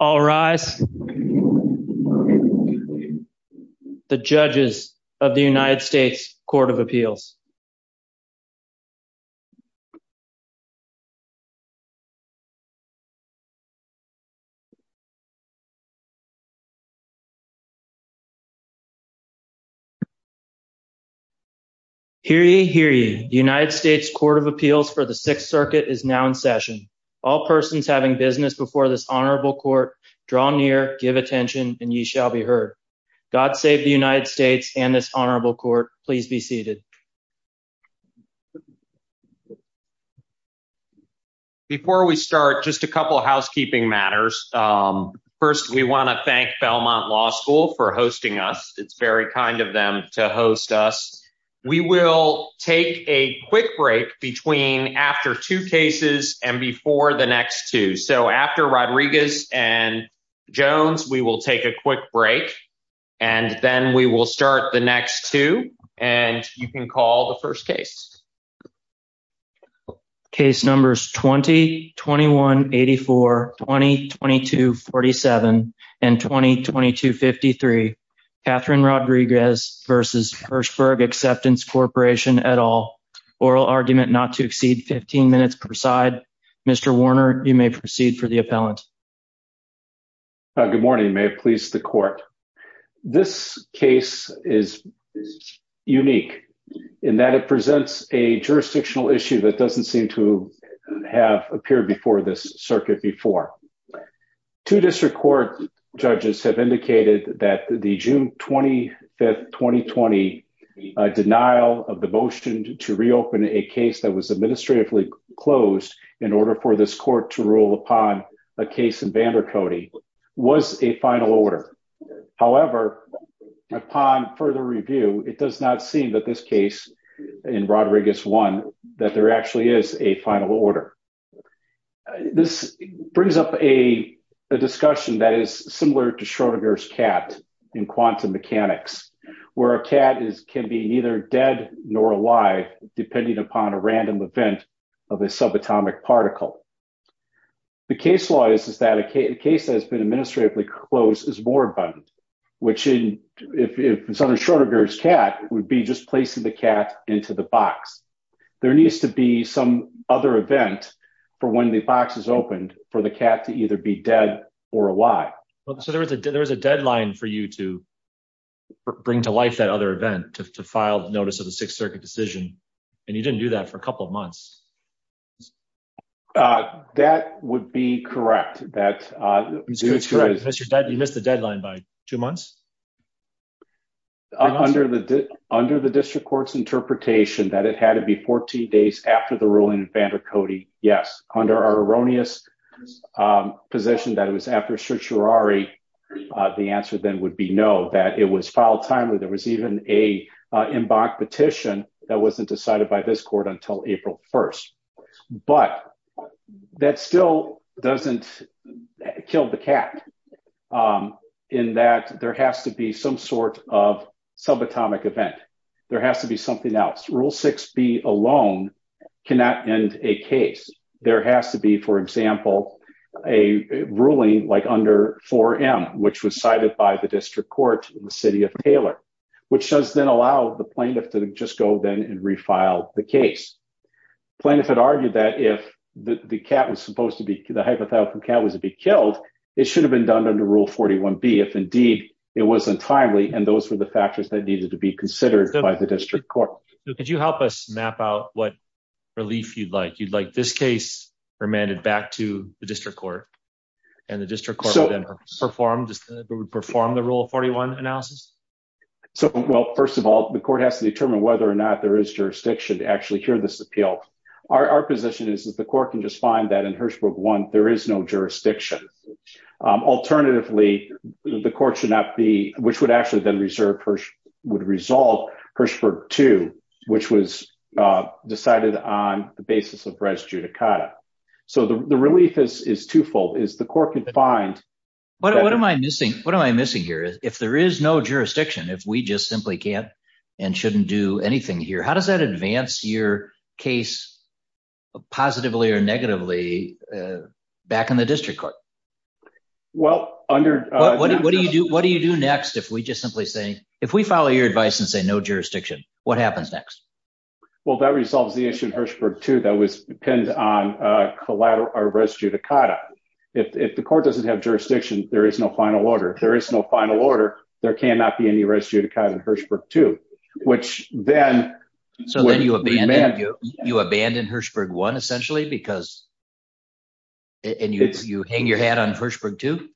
All rise. The judges of the United States Court of Appeals. Hear ye, hear ye. The United States Court of Appeals for the Sixth Circuit is now in session. All persons having business before this honorable court, draw near, give attention, and ye shall be heard. God save the United States and this honorable court. Please be seated. Before we start, just a couple housekeeping matters. First, we want to thank Belmont Law School for hosting us. It's very kind of them to host us. We will take a quick break between after two cases and before the next two. So after Rodriguez and Jones, we will take a quick break and then we will start the next two and you can call the first case. Case numbers 20-21-84, 20-22-47, and 20-22-53. Catherine Rodriguez versus Hirschberg Acceptance Corporation et al. Oral argument not to exceed 15 minutes per side. Mr. Warner, you may proceed for the appellant. Good morning. May it please the court. This case is unique in that it presents a jurisdictional issue that doesn't seem to have appeared before this circuit before. Two district court judges have indicated that the June 25, 2020, denial of the motion to reopen a case that was administratively closed in order for this court to rule upon a case in Vander Cody was a final order. However, upon further review, it does not this case in Rodriguez one that there actually is a final order. This brings up a discussion that is similar to Schrodinger's cat in quantum mechanics, where a cat can be neither dead nor alive depending upon a random event of a subatomic particle. The case law is that a case that has been administratively closed is more abundant, which in Schrodinger's cat would be just placing the cat into the box. There needs to be some other event for when the box is opened for the cat to either be dead or alive. So there was a deadline for you to bring to life that other event, to file notice of the Sixth Circuit decision, and you didn't do that for a couple of months. That would be correct. That is correct. You missed the deadline by two months. Under the district court's interpretation that it had to be 14 days after the ruling in Vander Cody, yes. Under our erroneous position that it was after certiorari, the answer then would be no. That it was filed timely. There was even an embark petition that wasn't decided by this court until April 1st. But that still doesn't kill the cat in that there has to be some sort of subatomic event. There has to be something else. Rule 6b alone cannot end a case. There has to be, for example, a ruling like under 4m, which was cited by the district court in the city of Taylor, which does then allow the plaintiff to just go then and refile the case. Plaintiff had argued that if the hypothetical cat was to be killed, it should have been done under Rule 41b if indeed it wasn't timely and those were the factors that needed to be considered by the district court. Could you help us map out what relief you'd like? You'd like this case remanded back to the district court and the district court would then perform the Rule 41 analysis? So well, first of all, the court has to determine whether or not there is jurisdiction to actually hear this appeal. Our position is that the court can just find that in Hirshberg 1 there is no jurisdiction. Alternatively, the court should not be, which would actually then reserve, would resolve Hirshberg 2, which was decided on the basis of res judicata. So the relief is twofold, is the just simply can't and shouldn't do anything here. How does that advance your case positively or negatively back in the district court? Well, what do you do next if we just simply say, if we follow your advice and say no jurisdiction, what happens next? Well, that resolves the issue in Hirshberg 2 that was pinned on collateral or res judicata. If the court doesn't have Hirshberg 2, which then. So then you abandon Hirshberg 1 essentially because and you hang your hat on Hirshberg 2?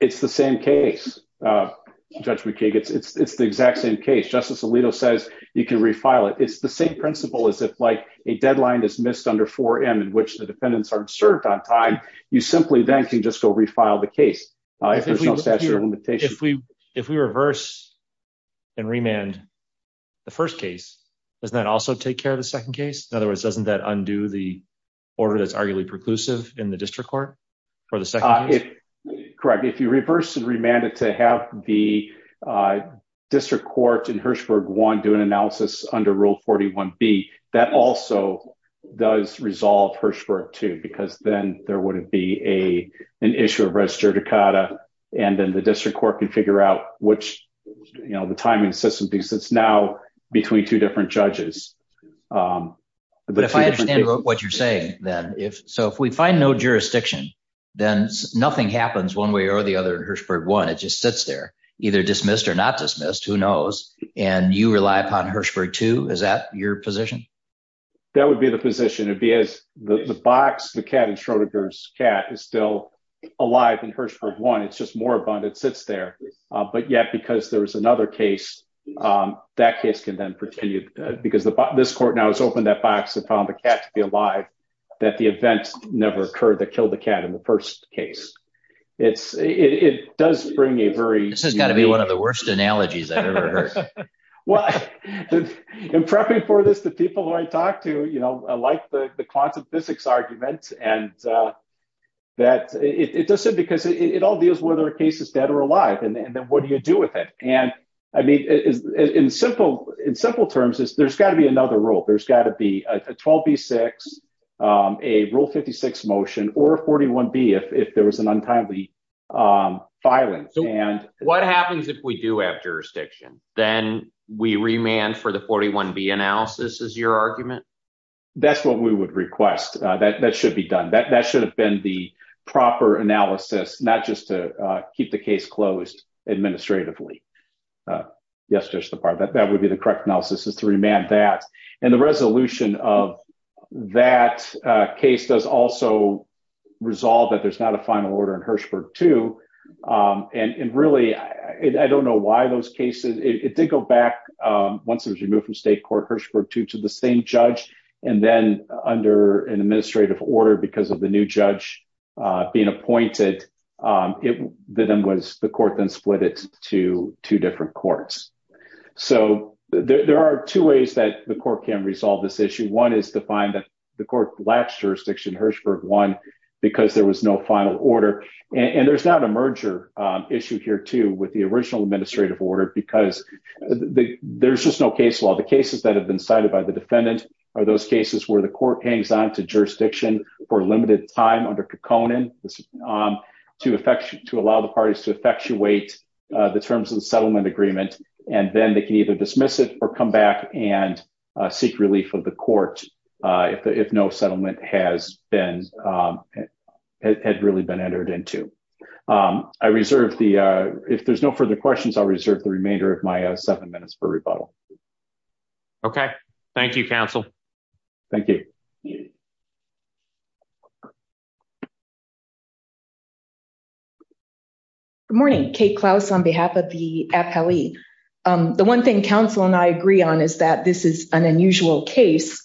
It's the same case, Judge McKeague. It's the exact same case. Justice Alito says you can refile it. It's the same principle as if like a deadline is missed under 4M in which the defendants aren't served on time. You simply then can just go file the case. If we reverse and remand the first case, does that also take care of the second case? In other words, doesn't that undo the order that's arguably preclusive in the district court for the second case? Correct. If you reverse and remand it to have the district court in Hirshberg 1 do an analysis under Rule 41B, that also does resolve Hirshberg 2 because then there would be an issue of res judicata and then the district court can figure out which, you know, the timing system because it's now between two different judges. But if I understand what you're saying then, so if we find no jurisdiction, then nothing happens one way or the other in Hirshberg 1. It just sits there either dismissed or not dismissed. Who knows? And you rely upon Hirshberg 2. Is that your position? That would be the position. It'd be as the box, the cat in Schrodinger's cat is still alive in Hirshberg 1. It's just more abundant. It sits there. But yet because there was another case, that case can then continue because this court now has opened that box and found the cat to be alive that the event never occurred that killed the cat in the first case. It does bring a very... This has got to be one of the worst analogies I've ever heard. Well, in prepping for this, the people who I talked to, you know, like the quantum physics argument and that it does it because it all deals whether a case is dead or alive. And then what do you do with it? And I mean, in simple terms, there's got to be another rule. There's got to be a 12B6, a Rule 56 motion or 41B if there was an untimely filing. So what happens if we do have we remand for the 41B analysis is your argument? That's what we would request. That should be done. That should have been the proper analysis, not just to keep the case closed administratively. Yes, Justice DeParle, that would be the correct analysis is to remand that. And the resolution of that case does also resolve that there's not a final order in Hirshberg 2. And really, I don't know why those cases... It did go back once it was removed from state court Hirshberg 2 to the same judge. And then under an administrative order because of the new judge being appointed, the court then split it to two different courts. So there are two ways that the court can resolve this issue. One is to find that the court lapsed jurisdiction Hirshberg 1 because there was no merger issue here too with the original administrative order, because there's just no case law. The cases that have been cited by the defendant are those cases where the court hangs on to jurisdiction for a limited time under Kekkonen to allow the parties to effectuate the terms of the settlement agreement. And then they can either dismiss it or come back and seek relief of the court if no settlement had really been entered into. I reserve the... If there's no further questions, I'll reserve the remainder of my seven minutes for rebuttal. Okay. Thank you, counsel. Thank you. Good morning. Kate Klaus on behalf of the appellee. The one thing counsel and I agree on is that this is an unusual case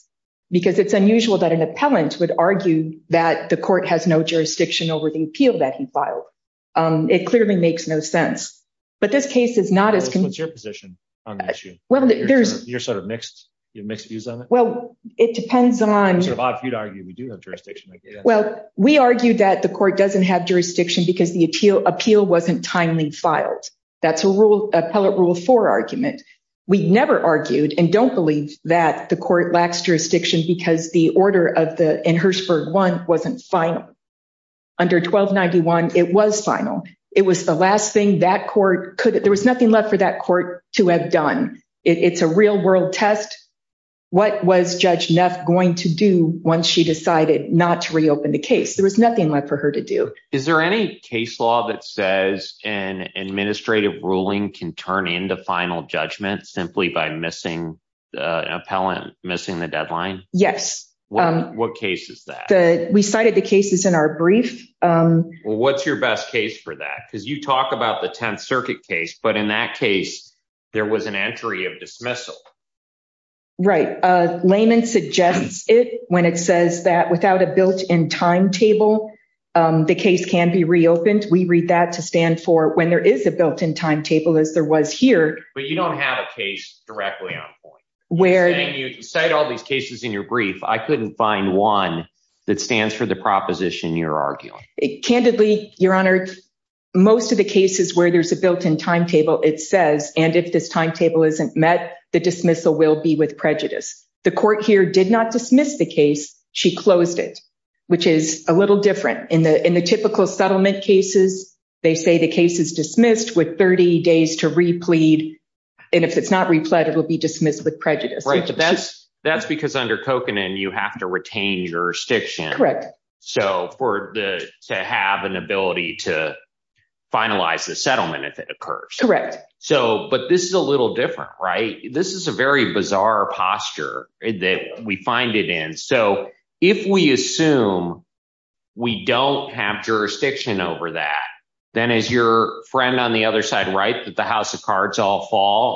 because it's unusual that an appellant would argue that the it clearly makes no sense. But this case is not as... What's your position on the issue? Well, there's... You're sort of mixed. You have mixed views on it? Well, it depends on... It's sort of odd for you to argue we do have jurisdiction. Well, we argue that the court doesn't have jurisdiction because the appeal wasn't timely filed. That's a rule, appellate rule four argument. We never argued and don't believe that the court lacks jurisdiction because the order of the in Hirshberg 1 wasn't final. Under 1291, it was final. It was the last thing that court could... There was nothing left for that court to have done. It's a real world test. What was Judge Neff going to do once she decided not to reopen the case? There was nothing left for her to do. Is there any case law that says an administrative ruling can turn into final judgment simply by missing an appellant, missing the deadline? Yes. What case is that? We cited the cases in our brief. Well, what's your best case for that? Because you talk about the 10th Circuit case, but in that case there was an entry of dismissal. Right. Layman suggests it when it says that without a built-in timetable, the case can be reopened. We read that to stand for when there is a built-in timetable as there was here. But you don't have a case directly on point. You cite all these cases in your brief. I couldn't find one that stands for the proposition you're arguing. Candidly, Your Honor, most of the cases where there's a built-in timetable, it says, and if this timetable isn't met, the dismissal will be with prejudice. The court here did not dismiss the case. She closed it, which is a little different. In the typical settlement cases, they say the case is to replead, and if it's not repled, it will be dismissed with prejudice. That's because under Kokanen, you have to retain jurisdiction to have an ability to finalize the settlement if it occurs. But this is a little different, right? This is a very bizarre posture that we find it in. If we all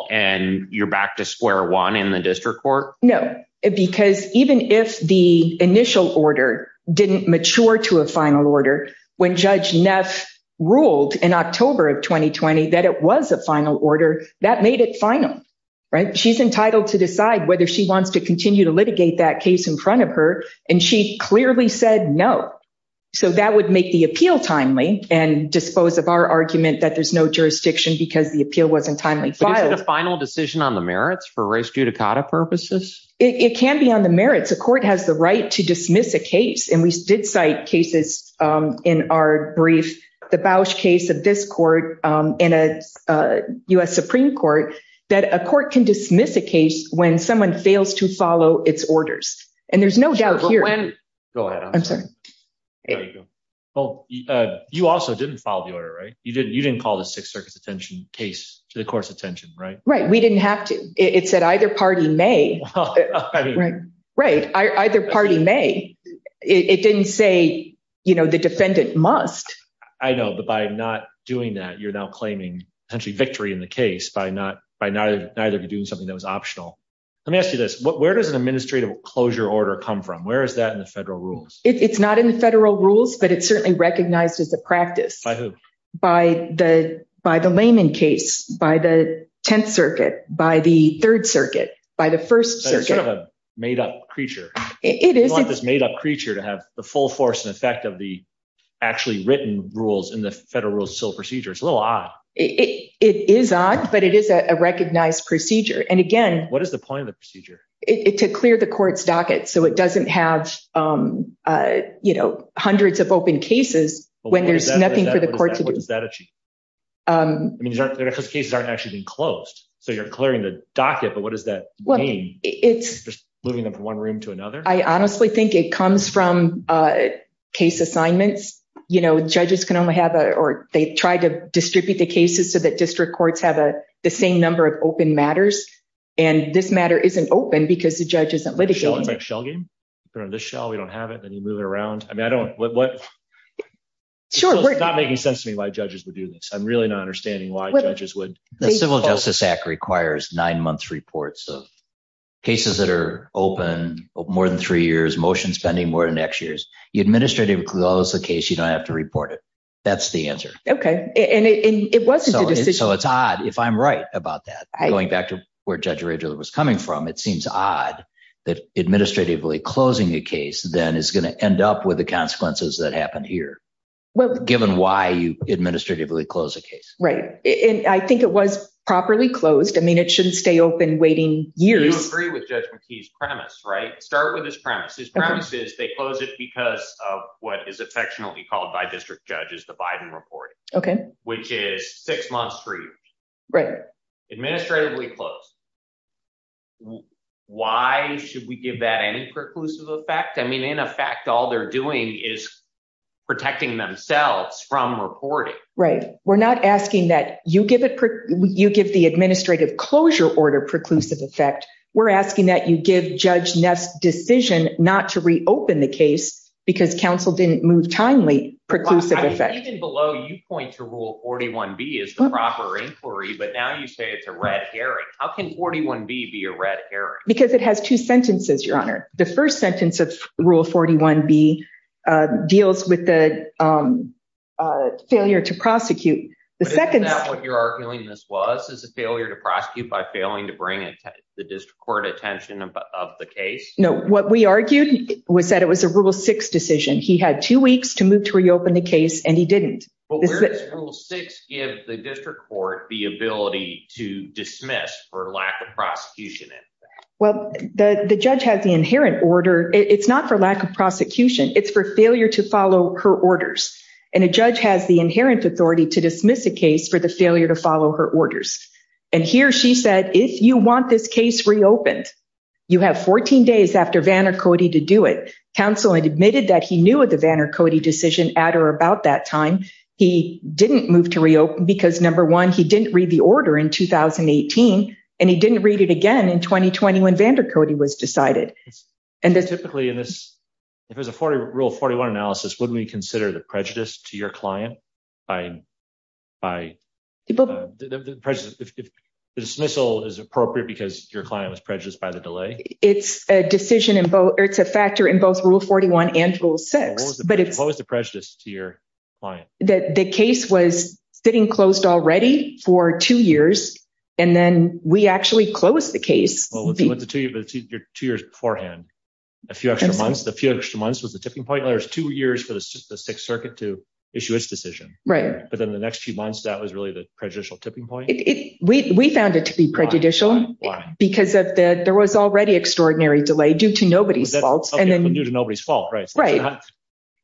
fall and you're back to square one in the district court. No, because even if the initial order didn't mature to a final order, when Judge Neff ruled in October of 2020 that it was a final order, that made it final, right? She's entitled to decide whether she wants to continue to litigate that case in front of her, and she clearly said no. So that would make the appeal timely and dispose of our argument that there's no jurisdiction because the appeal wasn't timely filed. Is it a final decision on the merits for res judicata purposes? It can be on the merits. The court has the right to dismiss a case, and we did cite cases in our brief, the Bausch case of this court in a U.S. Supreme Court, that a court can dismiss a case when someone fails to follow its orders, and there's no doubt here. I'm sorry. Well, you also didn't follow the order, right? You didn't call the Sixth Circuit's attention case to the court's attention, right? Right. We didn't have to. It said either party may. Right. Either party may. It didn't say, you know, the defendant must. I know, but by not doing that, you're now claiming potentially victory in the case by neither of you doing something that was optional. Let me ask you this. Where does an administrative closure order come from? Where is that in the federal rules? It's not in the federal rules, but it's certainly recognized as a practice. By who? By the layman case, by the Tenth Circuit, by the Third Circuit, by the First Circuit. It's sort of a made-up creature. It is. You want this made-up creature to have the full force and effect of the actually written rules in the federal rules of civil procedure. It's a little odd. It is odd, but it is a recognized procedure. And again— What is the point of the procedure? To clear the court's docket so it doesn't have, you know, hundreds of open cases when there's nothing for the court to do. What does that achieve? I mean, those cases aren't actually being closed, so you're clearing the docket, but what does that mean? Well, it's— Just moving them from one room to another? I honestly think it comes from case assignments. You know, judges can only have a—or they try to distribute the cases so that district courts have the same number of open matters. And this matter isn't open because the judge isn't litigating it. It's like a shell game. You put it on this shell, we don't have it, then you move it around. I mean, I don't— Sure, we're— It's not making sense to me why judges would do this. I'm really not understanding why judges would— The Civil Justice Act requires nine-month reports of cases that are open more than three years, motion spending more than X years. You administratively close the case, you don't have to report it. That's the answer. Okay. And it wasn't a decision— So it's odd, if I'm right about that, going back to where Judge Rageler was coming from, it seems odd that administratively closing a case then is going to end up with the consequences that happened here, given why you administratively close a case. Right. And I think it was properly closed. I mean, it shouldn't stay open waiting years. You agree with Judge McKee's premise, right? Start with his premise. His premise is they close it because of what is affectionately called by district judges the Biden report. Okay. Which is six months, three years. Right. Administratively closed. Why should we give that any preclusive effect? I mean, in effect, all they're doing is protecting themselves from reporting. Right. We're not asking that you give it— you give the administrative closure order preclusive effect. We're asking that you give Judge Neff's decision not to reopen the case because counsel didn't move timely preclusive effect. Even below, you point to Rule 41B as the proper inquiry, but now you say it's a red herring. How can 41B be a red herring? Because it has two sentences, Your Honor. The first sentence of Rule 41B deals with the failure to prosecute. The second— But isn't that what you're arguing this was, is a failure to prosecute by failing to bring the district court attention of the case? No. What we argued was that it was a Rule 6 decision. He had two weeks to move to reopen the case, and he didn't. But where does Rule 6 give the district court the ability to dismiss for lack of prosecution? Well, the judge has the inherent order. It's not for lack of prosecution. It's for failure to follow her orders. And a judge has the inherent authority to dismiss a case for the failure to follow her orders. And here she said, if you want this case reopened, you have 14 days after Vanner Cody to do it. Counsel admitted that he knew of the Vanner Cody decision at or about that time. He didn't move to reopen because, number one, he didn't read the order in 2018, and he didn't read it again in 2020 when Vanner Cody was decided. And typically in this—if it was a Rule 41 analysis, would we consider the prejudice to your client by—if the dismissal is appropriate because your client was prejudiced by the delay? It's a decision in both—or it's a factor in both Rule 41 and Rule 6, but it's— What was the prejudice to your client? That the case was sitting closed already for two years, and then we actually closed the case. Well, what's the two years beforehand? A few extra months. The few extra months was the tipping point. There's two years for the Sixth Circuit to issue its decision. Right. But then the next few months, that was really the prejudicial tipping point? We found it to be prejudicial. Why? Why? Because there was already extraordinary delay due to nobody's fault, and then— Okay, due to nobody's fault, right. Right.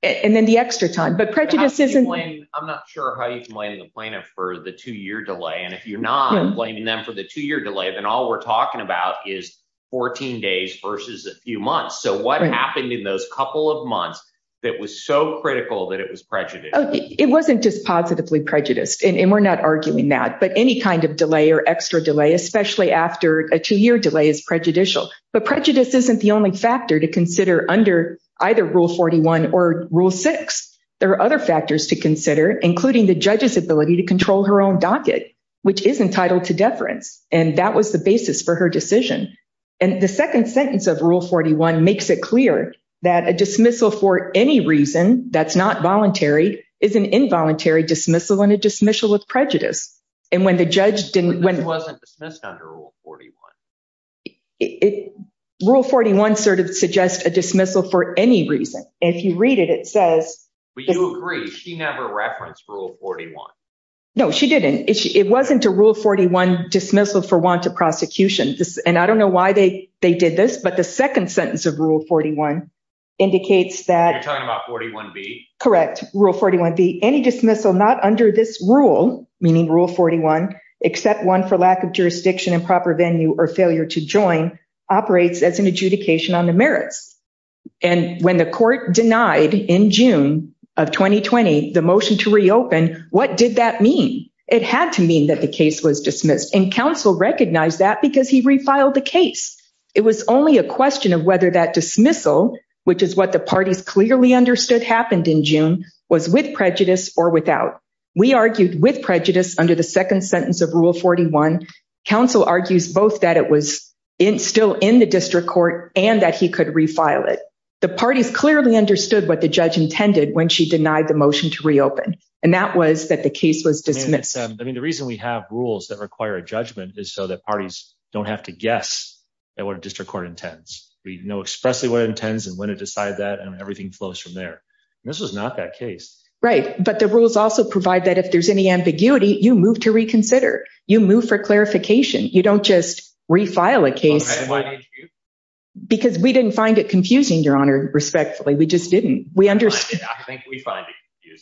And then the extra time. But prejudice isn't— I'm not sure how you can blame the plaintiff for the two-year delay. And if you're not blaming them for the two-year delay, then all we're talking about is 14 days versus a few months. So what happened in those couple of months that was so critical that it was prejudiced? It wasn't just positively prejudiced, and we're not arguing that. But any kind of delay or extra delay, especially after a two-year delay, is prejudicial. But prejudice isn't the only factor to consider under either Rule 41 or Rule 6. There are other factors to consider, including the judge's ability to control her own docket, which is entitled to deference. And that was the basis for her decision. And the second sentence of Rule 41 makes it clear that a dismissal for any reason that's not voluntary is an involuntary dismissal and a dismissal of prejudice. And when the judge didn't— It wasn't dismissed under Rule 41. Rule 41 sort of suggests a dismissal for any reason. If you read it, it says— But you agree, she never referenced Rule 41. No, she didn't. It wasn't a Rule 41 dismissal for want of prosecution. And I don't know why they did this, but the second sentence of Rule 41 indicates that— You're talking about 41B? Correct. Rule 41B, any dismissal not under this rule, meaning Rule 41, except one for lack of jurisdiction and proper venue or failure to join, operates as an adjudication on the merits. And when the court denied, in June of 2020, the motion to reopen, what did that mean? It had to mean that the case was dismissed. And counsel recognized that because he refiled the case. It was only a question of whether that dismissal, which is what the parties clearly understood happened in June, was with prejudice or without. We argued with prejudice under the second sentence of Rule 41. Counsel argues both that it was still in the district court and that he could refile it. The parties clearly understood what the judge intended when she denied the motion to reopen. And that was that the case was dismissed. I mean, the reason we have rules that require a judgment is so that parties don't have to guess at what a district court intends. We know expressly what it intends and when to decide that and everything flows from there. And this was not that case. Right. But the rules also provide that if there's any ambiguity, you move to reconsider. You move for clarification. You don't just refile a case. Because we didn't find it confusing, Your Honor, respectfully. We just didn't. We understand. I think we find it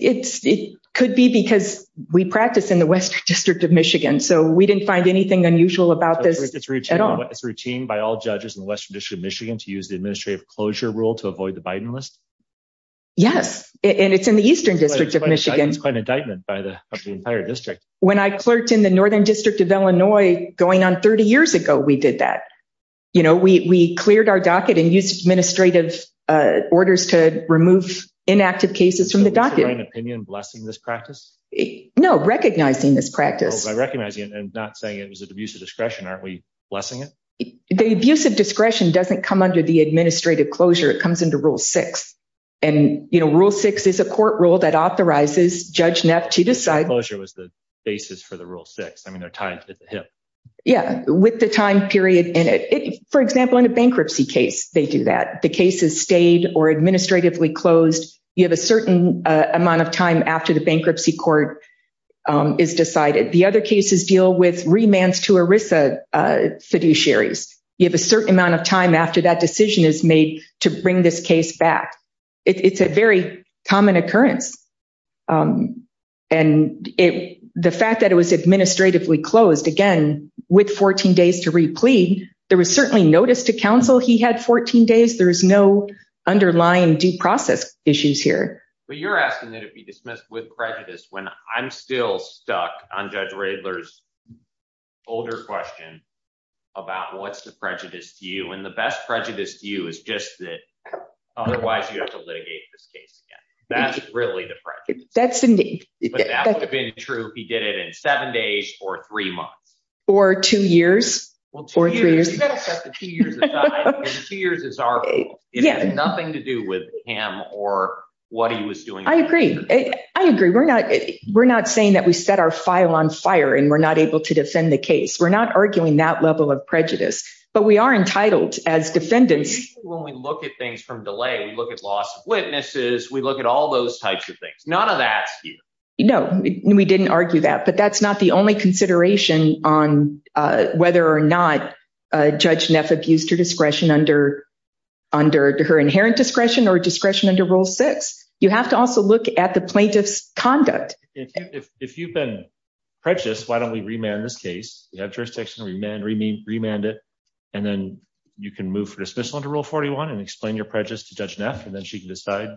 confusing. It could be because we practice in the Western District of Michigan, so we didn't find anything unusual about this at all. It's routine by all judges in the Western District of Michigan to use the administrative closure rule to avoid the Biden list? Yes. And it's in the Eastern District of Michigan. It's quite an indictment by the entire district. When I clerked in the Northern District of Illinois going on 30 years ago, we did that. You know, we cleared our docket and used administrative orders to remove inactive cases from the docket. Is your own opinion blessing this practice? No, recognizing this practice. By recognizing it and not saying it was an abuse of discretion, aren't we blessing it? The abuse of discretion doesn't come under the administrative closure. It comes under Rule 6. And, you know, Rule 6 is a court rule that authorizes Judge Neff to decide— Administrative closure was the basis for the Rule 6. I mean, they're tied to the HIP. Yeah, with the time period in it. For example, in a bankruptcy case, they do that. The case is stayed or administratively closed. You have a certain amount of time after the bankruptcy court is decided. The other cases deal with remands to ERISA fiduciaries. You have a certain amount of time after that decision is made to bring this case back. It's a very common occurrence. And the fact that it was administratively closed, again, with 14 days to replead, there was certainly notice to counsel he had 14 days. There's no underlying due process issues here. But you're asking that it be dismissed with prejudice when I'm still stuck on Judge Radler's older question about what's the prejudice to you. And the best prejudice to you is just that otherwise you have to litigate this case again. That's really the prejudice. That's indeed. But that would have been true if he did it in seven days or three months. Or two years. Well, two years. You've got to set the two years aside because two years is our rule. It had nothing to do with him or what he was doing. I agree. I agree. We're not saying that we set our file on fire and we're not able to defend the case. We're not arguing that level of prejudice. But we are entitled as defendants. When we look at things from delay, we look at loss of witnesses. We look at all those types of things. None of that. No, we didn't argue that. But that's not the only consideration on whether or not Judge Neff abused her discretion under her inherent discretion or discretion under Rule 6. You have to also look at the plaintiff's conduct. If you've been prejudiced, why don't we remand this case? You have jurisdiction, remand it. And then you can move for dismissal under Rule 41 and explain your prejudice to Judge Neff. And then she can decide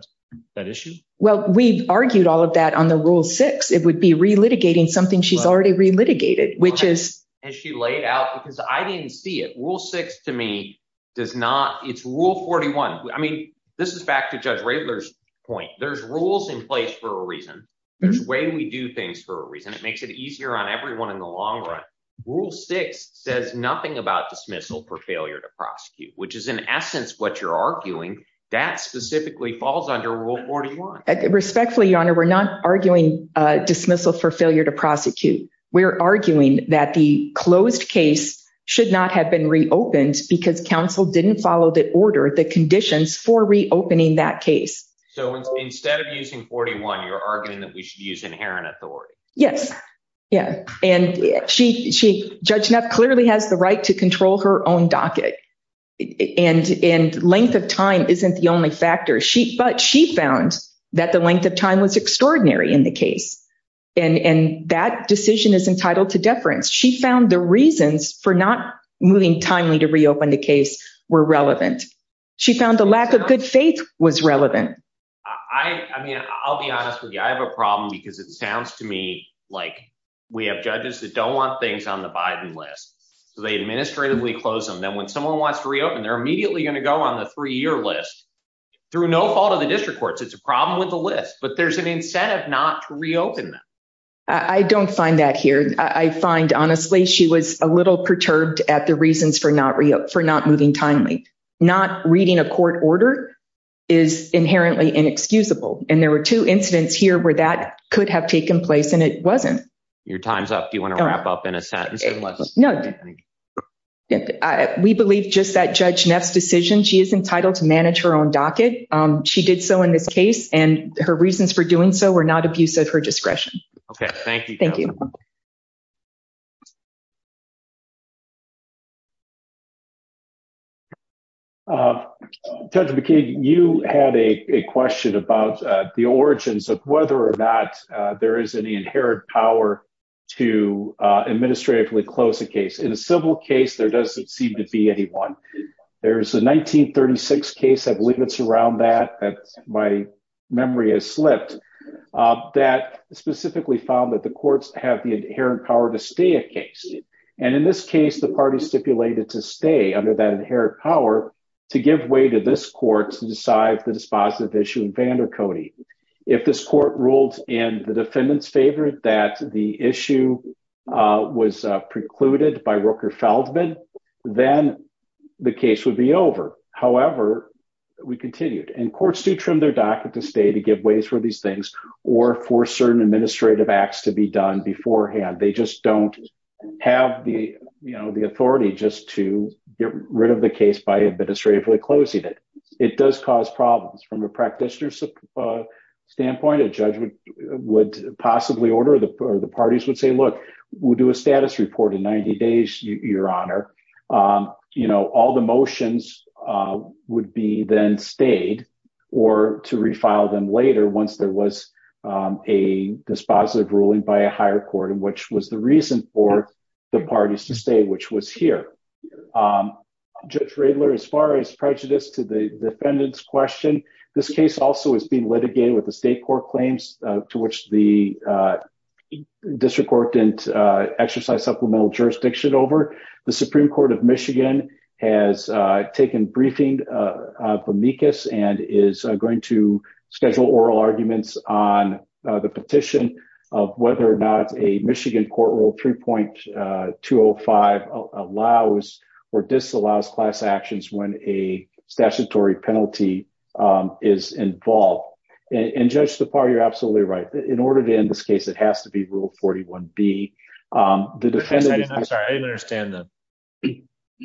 that issue. Well, we've argued all of that on the Rule 6. It would be relitigating something she's already relitigated, which is. As she laid out. Because I didn't see it. Rule 6 to me does not. It's Rule 41. I mean, this is back to Judge Raebler's point. There's rules in place for a reason. There's a way we do things for a reason. It makes it easier on everyone in the long run. Rule 6 says nothing about dismissal for failure to prosecute, which is in essence what you're arguing. That specifically falls under Rule 41. Respectfully, Your Honor, we're not arguing dismissal for failure to prosecute. We're arguing that the closed case should not have been reopened because counsel didn't follow the order. The conditions for reopening that case. So instead of using 41, you're arguing that we should use inherent authority. Yes. Yeah. And Judge Neff clearly has the right to control her own docket. And length of time isn't the only factor. But she found that the length of time was extraordinary in the case. And that decision is entitled to deference. She found the reasons for not moving timely to reopen the case were relevant. She found the lack of good faith was relevant. I mean, I'll be honest with you. I have a problem because it sounds to me like we have judges that don't want things on the Biden list. So they administratively close them. Then when someone wants to reopen, they're immediately going to go on the three-year list through no fault of the district courts. It's a problem with the list. But there's an incentive not to reopen them. I don't find that here. I find, honestly, she was a little perturbed at the reasons for not moving timely. Not reading a court order is inherently inexcusable. And there were two incidents here where that could have taken place. And it wasn't. Your time's up. Do you want to wrap up in a sentence? No. We believe just that Judge Neff's decision, she is entitled to manage her own docket. She did so in this case. And her reasons for doing so were not abuse of her discretion. OK. Thank you. Judge McKeague, you had a question about the origins of whether or not there is any inherent power to administratively close a case. In a civil case, there doesn't seem to be any one. There's a 1936 case, I believe it's around that, that my memory has slipped, that specifically found that the courts have the inherent power to stay a case. And in this case, the party stipulated to stay under that inherent power to give way to this court to decide the dispositive issue in Vandercote. If this court ruled in the defendant's favor that the issue was precluded by Rooker-Feldman, then the case would be over. However, we continued. And courts do trim their docket to stay to give ways for these things or for certain administrative acts to be done beforehand. They just don't have the authority just to get rid of the case by administratively closing it. It does cause problems. From a practitioner's standpoint, a judge would possibly order or the parties would say, look, we'll do a status report in 90 days, your honor. All the motions would be then stayed or to refile them later once there was a dispositive ruling by a higher court, which was the reason for the parties to stay, which was here. Judge Riedler, as far as prejudice to the defendant's question, this case also has been litigated with the state court claims to which the district court didn't exercise supplemental jurisdiction over. The Supreme Court of Michigan has taken briefing of Amicus and is going to schedule oral arguments on the petition of whether or not a Michigan court rule 3.205 allows or disallows class actions when a statutory penalty is involved. And Judge Tappar, you're absolutely right. In order to end this case, it has to be rule 41B. I'm sorry,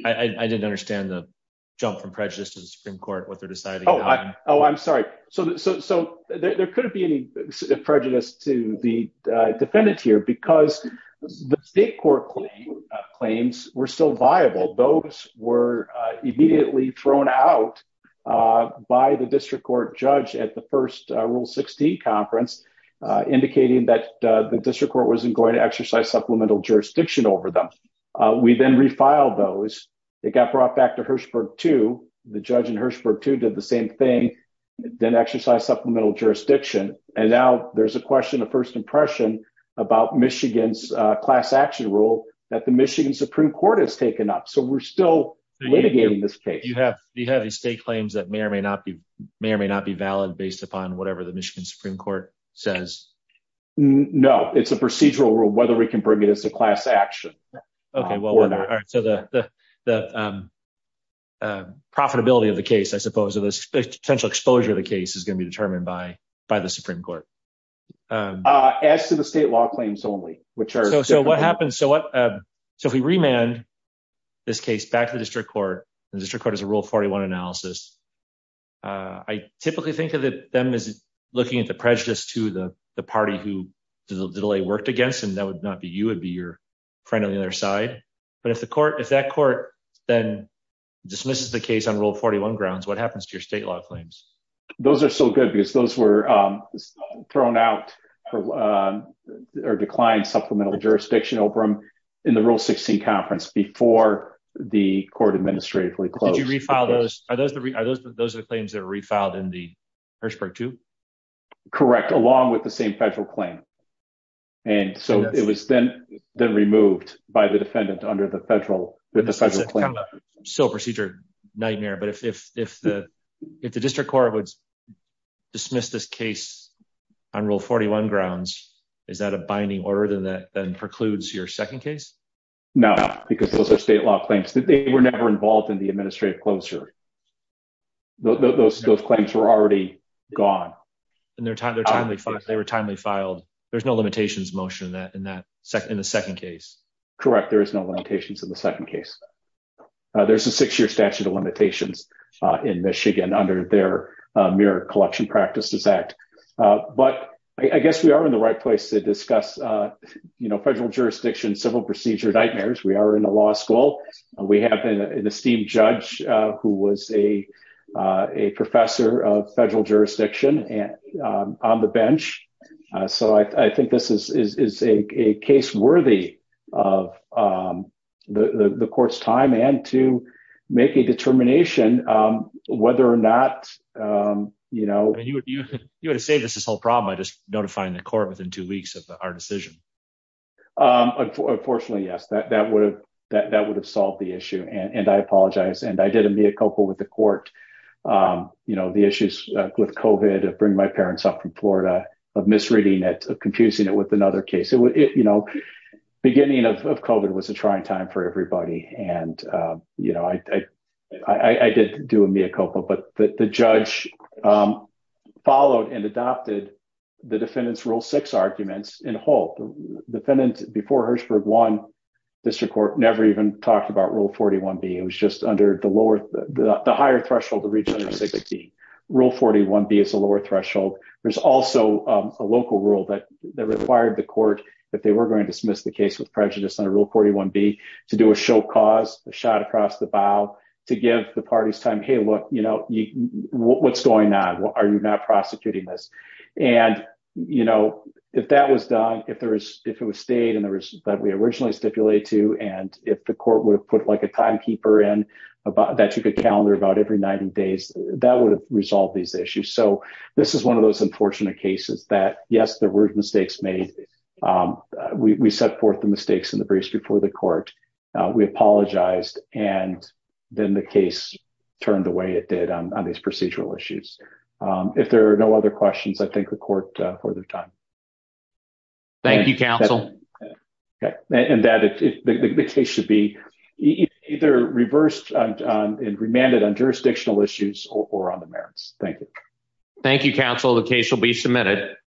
I didn't understand the jump from prejudice to the Supreme Court. Oh, I'm sorry. So there couldn't be any prejudice to the defendant here because the state court claims were still viable. Those were immediately thrown out by the district court judge at the first Rule 16 conference, indicating that the district court wasn't going to exercise supplemental jurisdiction over them. We then refiled those. They got brought back to Hirshberg 2. The judge in Hirshberg 2 did the same thing. Then exercised supplemental jurisdiction. And now there's a question of first impression about Michigan's class action rule that the Michigan Supreme Court has taken up. So we're still litigating this case. Do you have any state claims that may or may not be valid based upon whatever the Michigan Supreme Court says? No, it's a procedural rule whether we can bring it as a class action. Okay, so the profitability of the case, I suppose, or the potential exposure of the case is going to be determined by the Supreme Court. As to the state law claims only, which are... So what happens, so if we remand this case back to the district court, the district court has a Rule 41 analysis. I typically think of them as looking at the prejudice to the party who the delay worked against, and that would not be you, it would be your friend on the other side. But if that court then dismisses the case on Rule 41 grounds, what happens to your state law claims? Those are still good because those were thrown out or declined supplemental jurisdiction, Obram, in the Rule 16 conference before the court administratively closed. Did you refile those? Are those the claims that were refiled in the Hirshberg 2? Correct, along with the same federal claim. And so it was then removed by the defendant under the federal claim. So procedure nightmare. But if the district court would dismiss this case on Rule 41 grounds, is that a binding order that then precludes your second case? No, because those are state law claims. They were never involved in the administrative closure. Those claims were already gone. And they were timely filed. There's no limitations motion in the second case. Correct. There is no limitations in the second case. There's a six-year statute of limitations in Michigan under their Mirror Collection Practices Act. But I guess we are in the right place to discuss federal jurisdiction civil procedure nightmares. We are in a law school. We have an esteemed judge who was a professor of federal jurisdiction on the bench. So I think this is a case worthy of the court's time and to make a determination whether or not. You would have saved us this whole problem by just notifying the court within two weeks of our decision. Unfortunately, yes. That would have solved the issue. And I apologize. And I did a mea culpa with the court. The issues with COVID, of bringing my parents up from Florida, of misreading it, of confusing it with another case. Beginning of COVID was a trying time for everybody. And I did do a mea culpa. But the judge followed and adopted the defendant's Rule 6 arguments in Holt. Defendant, before Hertzberg won, district court never even talked about Rule 41B. It was just under the lower, the higher threshold to reach under 6B. Rule 41B is a lower threshold. There's also a local rule that required the court, if they were going to dismiss the case with prejudice under Rule 41B, to do a show cause, a shot across the bow, to give the parties time. Hey, look, what's going on? Are you not prosecuting this? And, you know, if that was done, if it was stayed and that we originally stipulated to, and if the court would have put like a timekeeper in that took a calendar about every 90 days, that would have resolved these issues. So this is one of those unfortunate cases that, yes, there were mistakes made. We set forth the mistakes in the briefs before the court. We apologized. And then the case turned the way it did on these procedural issues. If there are no other questions, I thank the court for their time. Thank you, counsel. And that the case should be either reversed and remanded on jurisdictional issues or on the merits. Thank you. Thank you, counsel. The case will be submitted.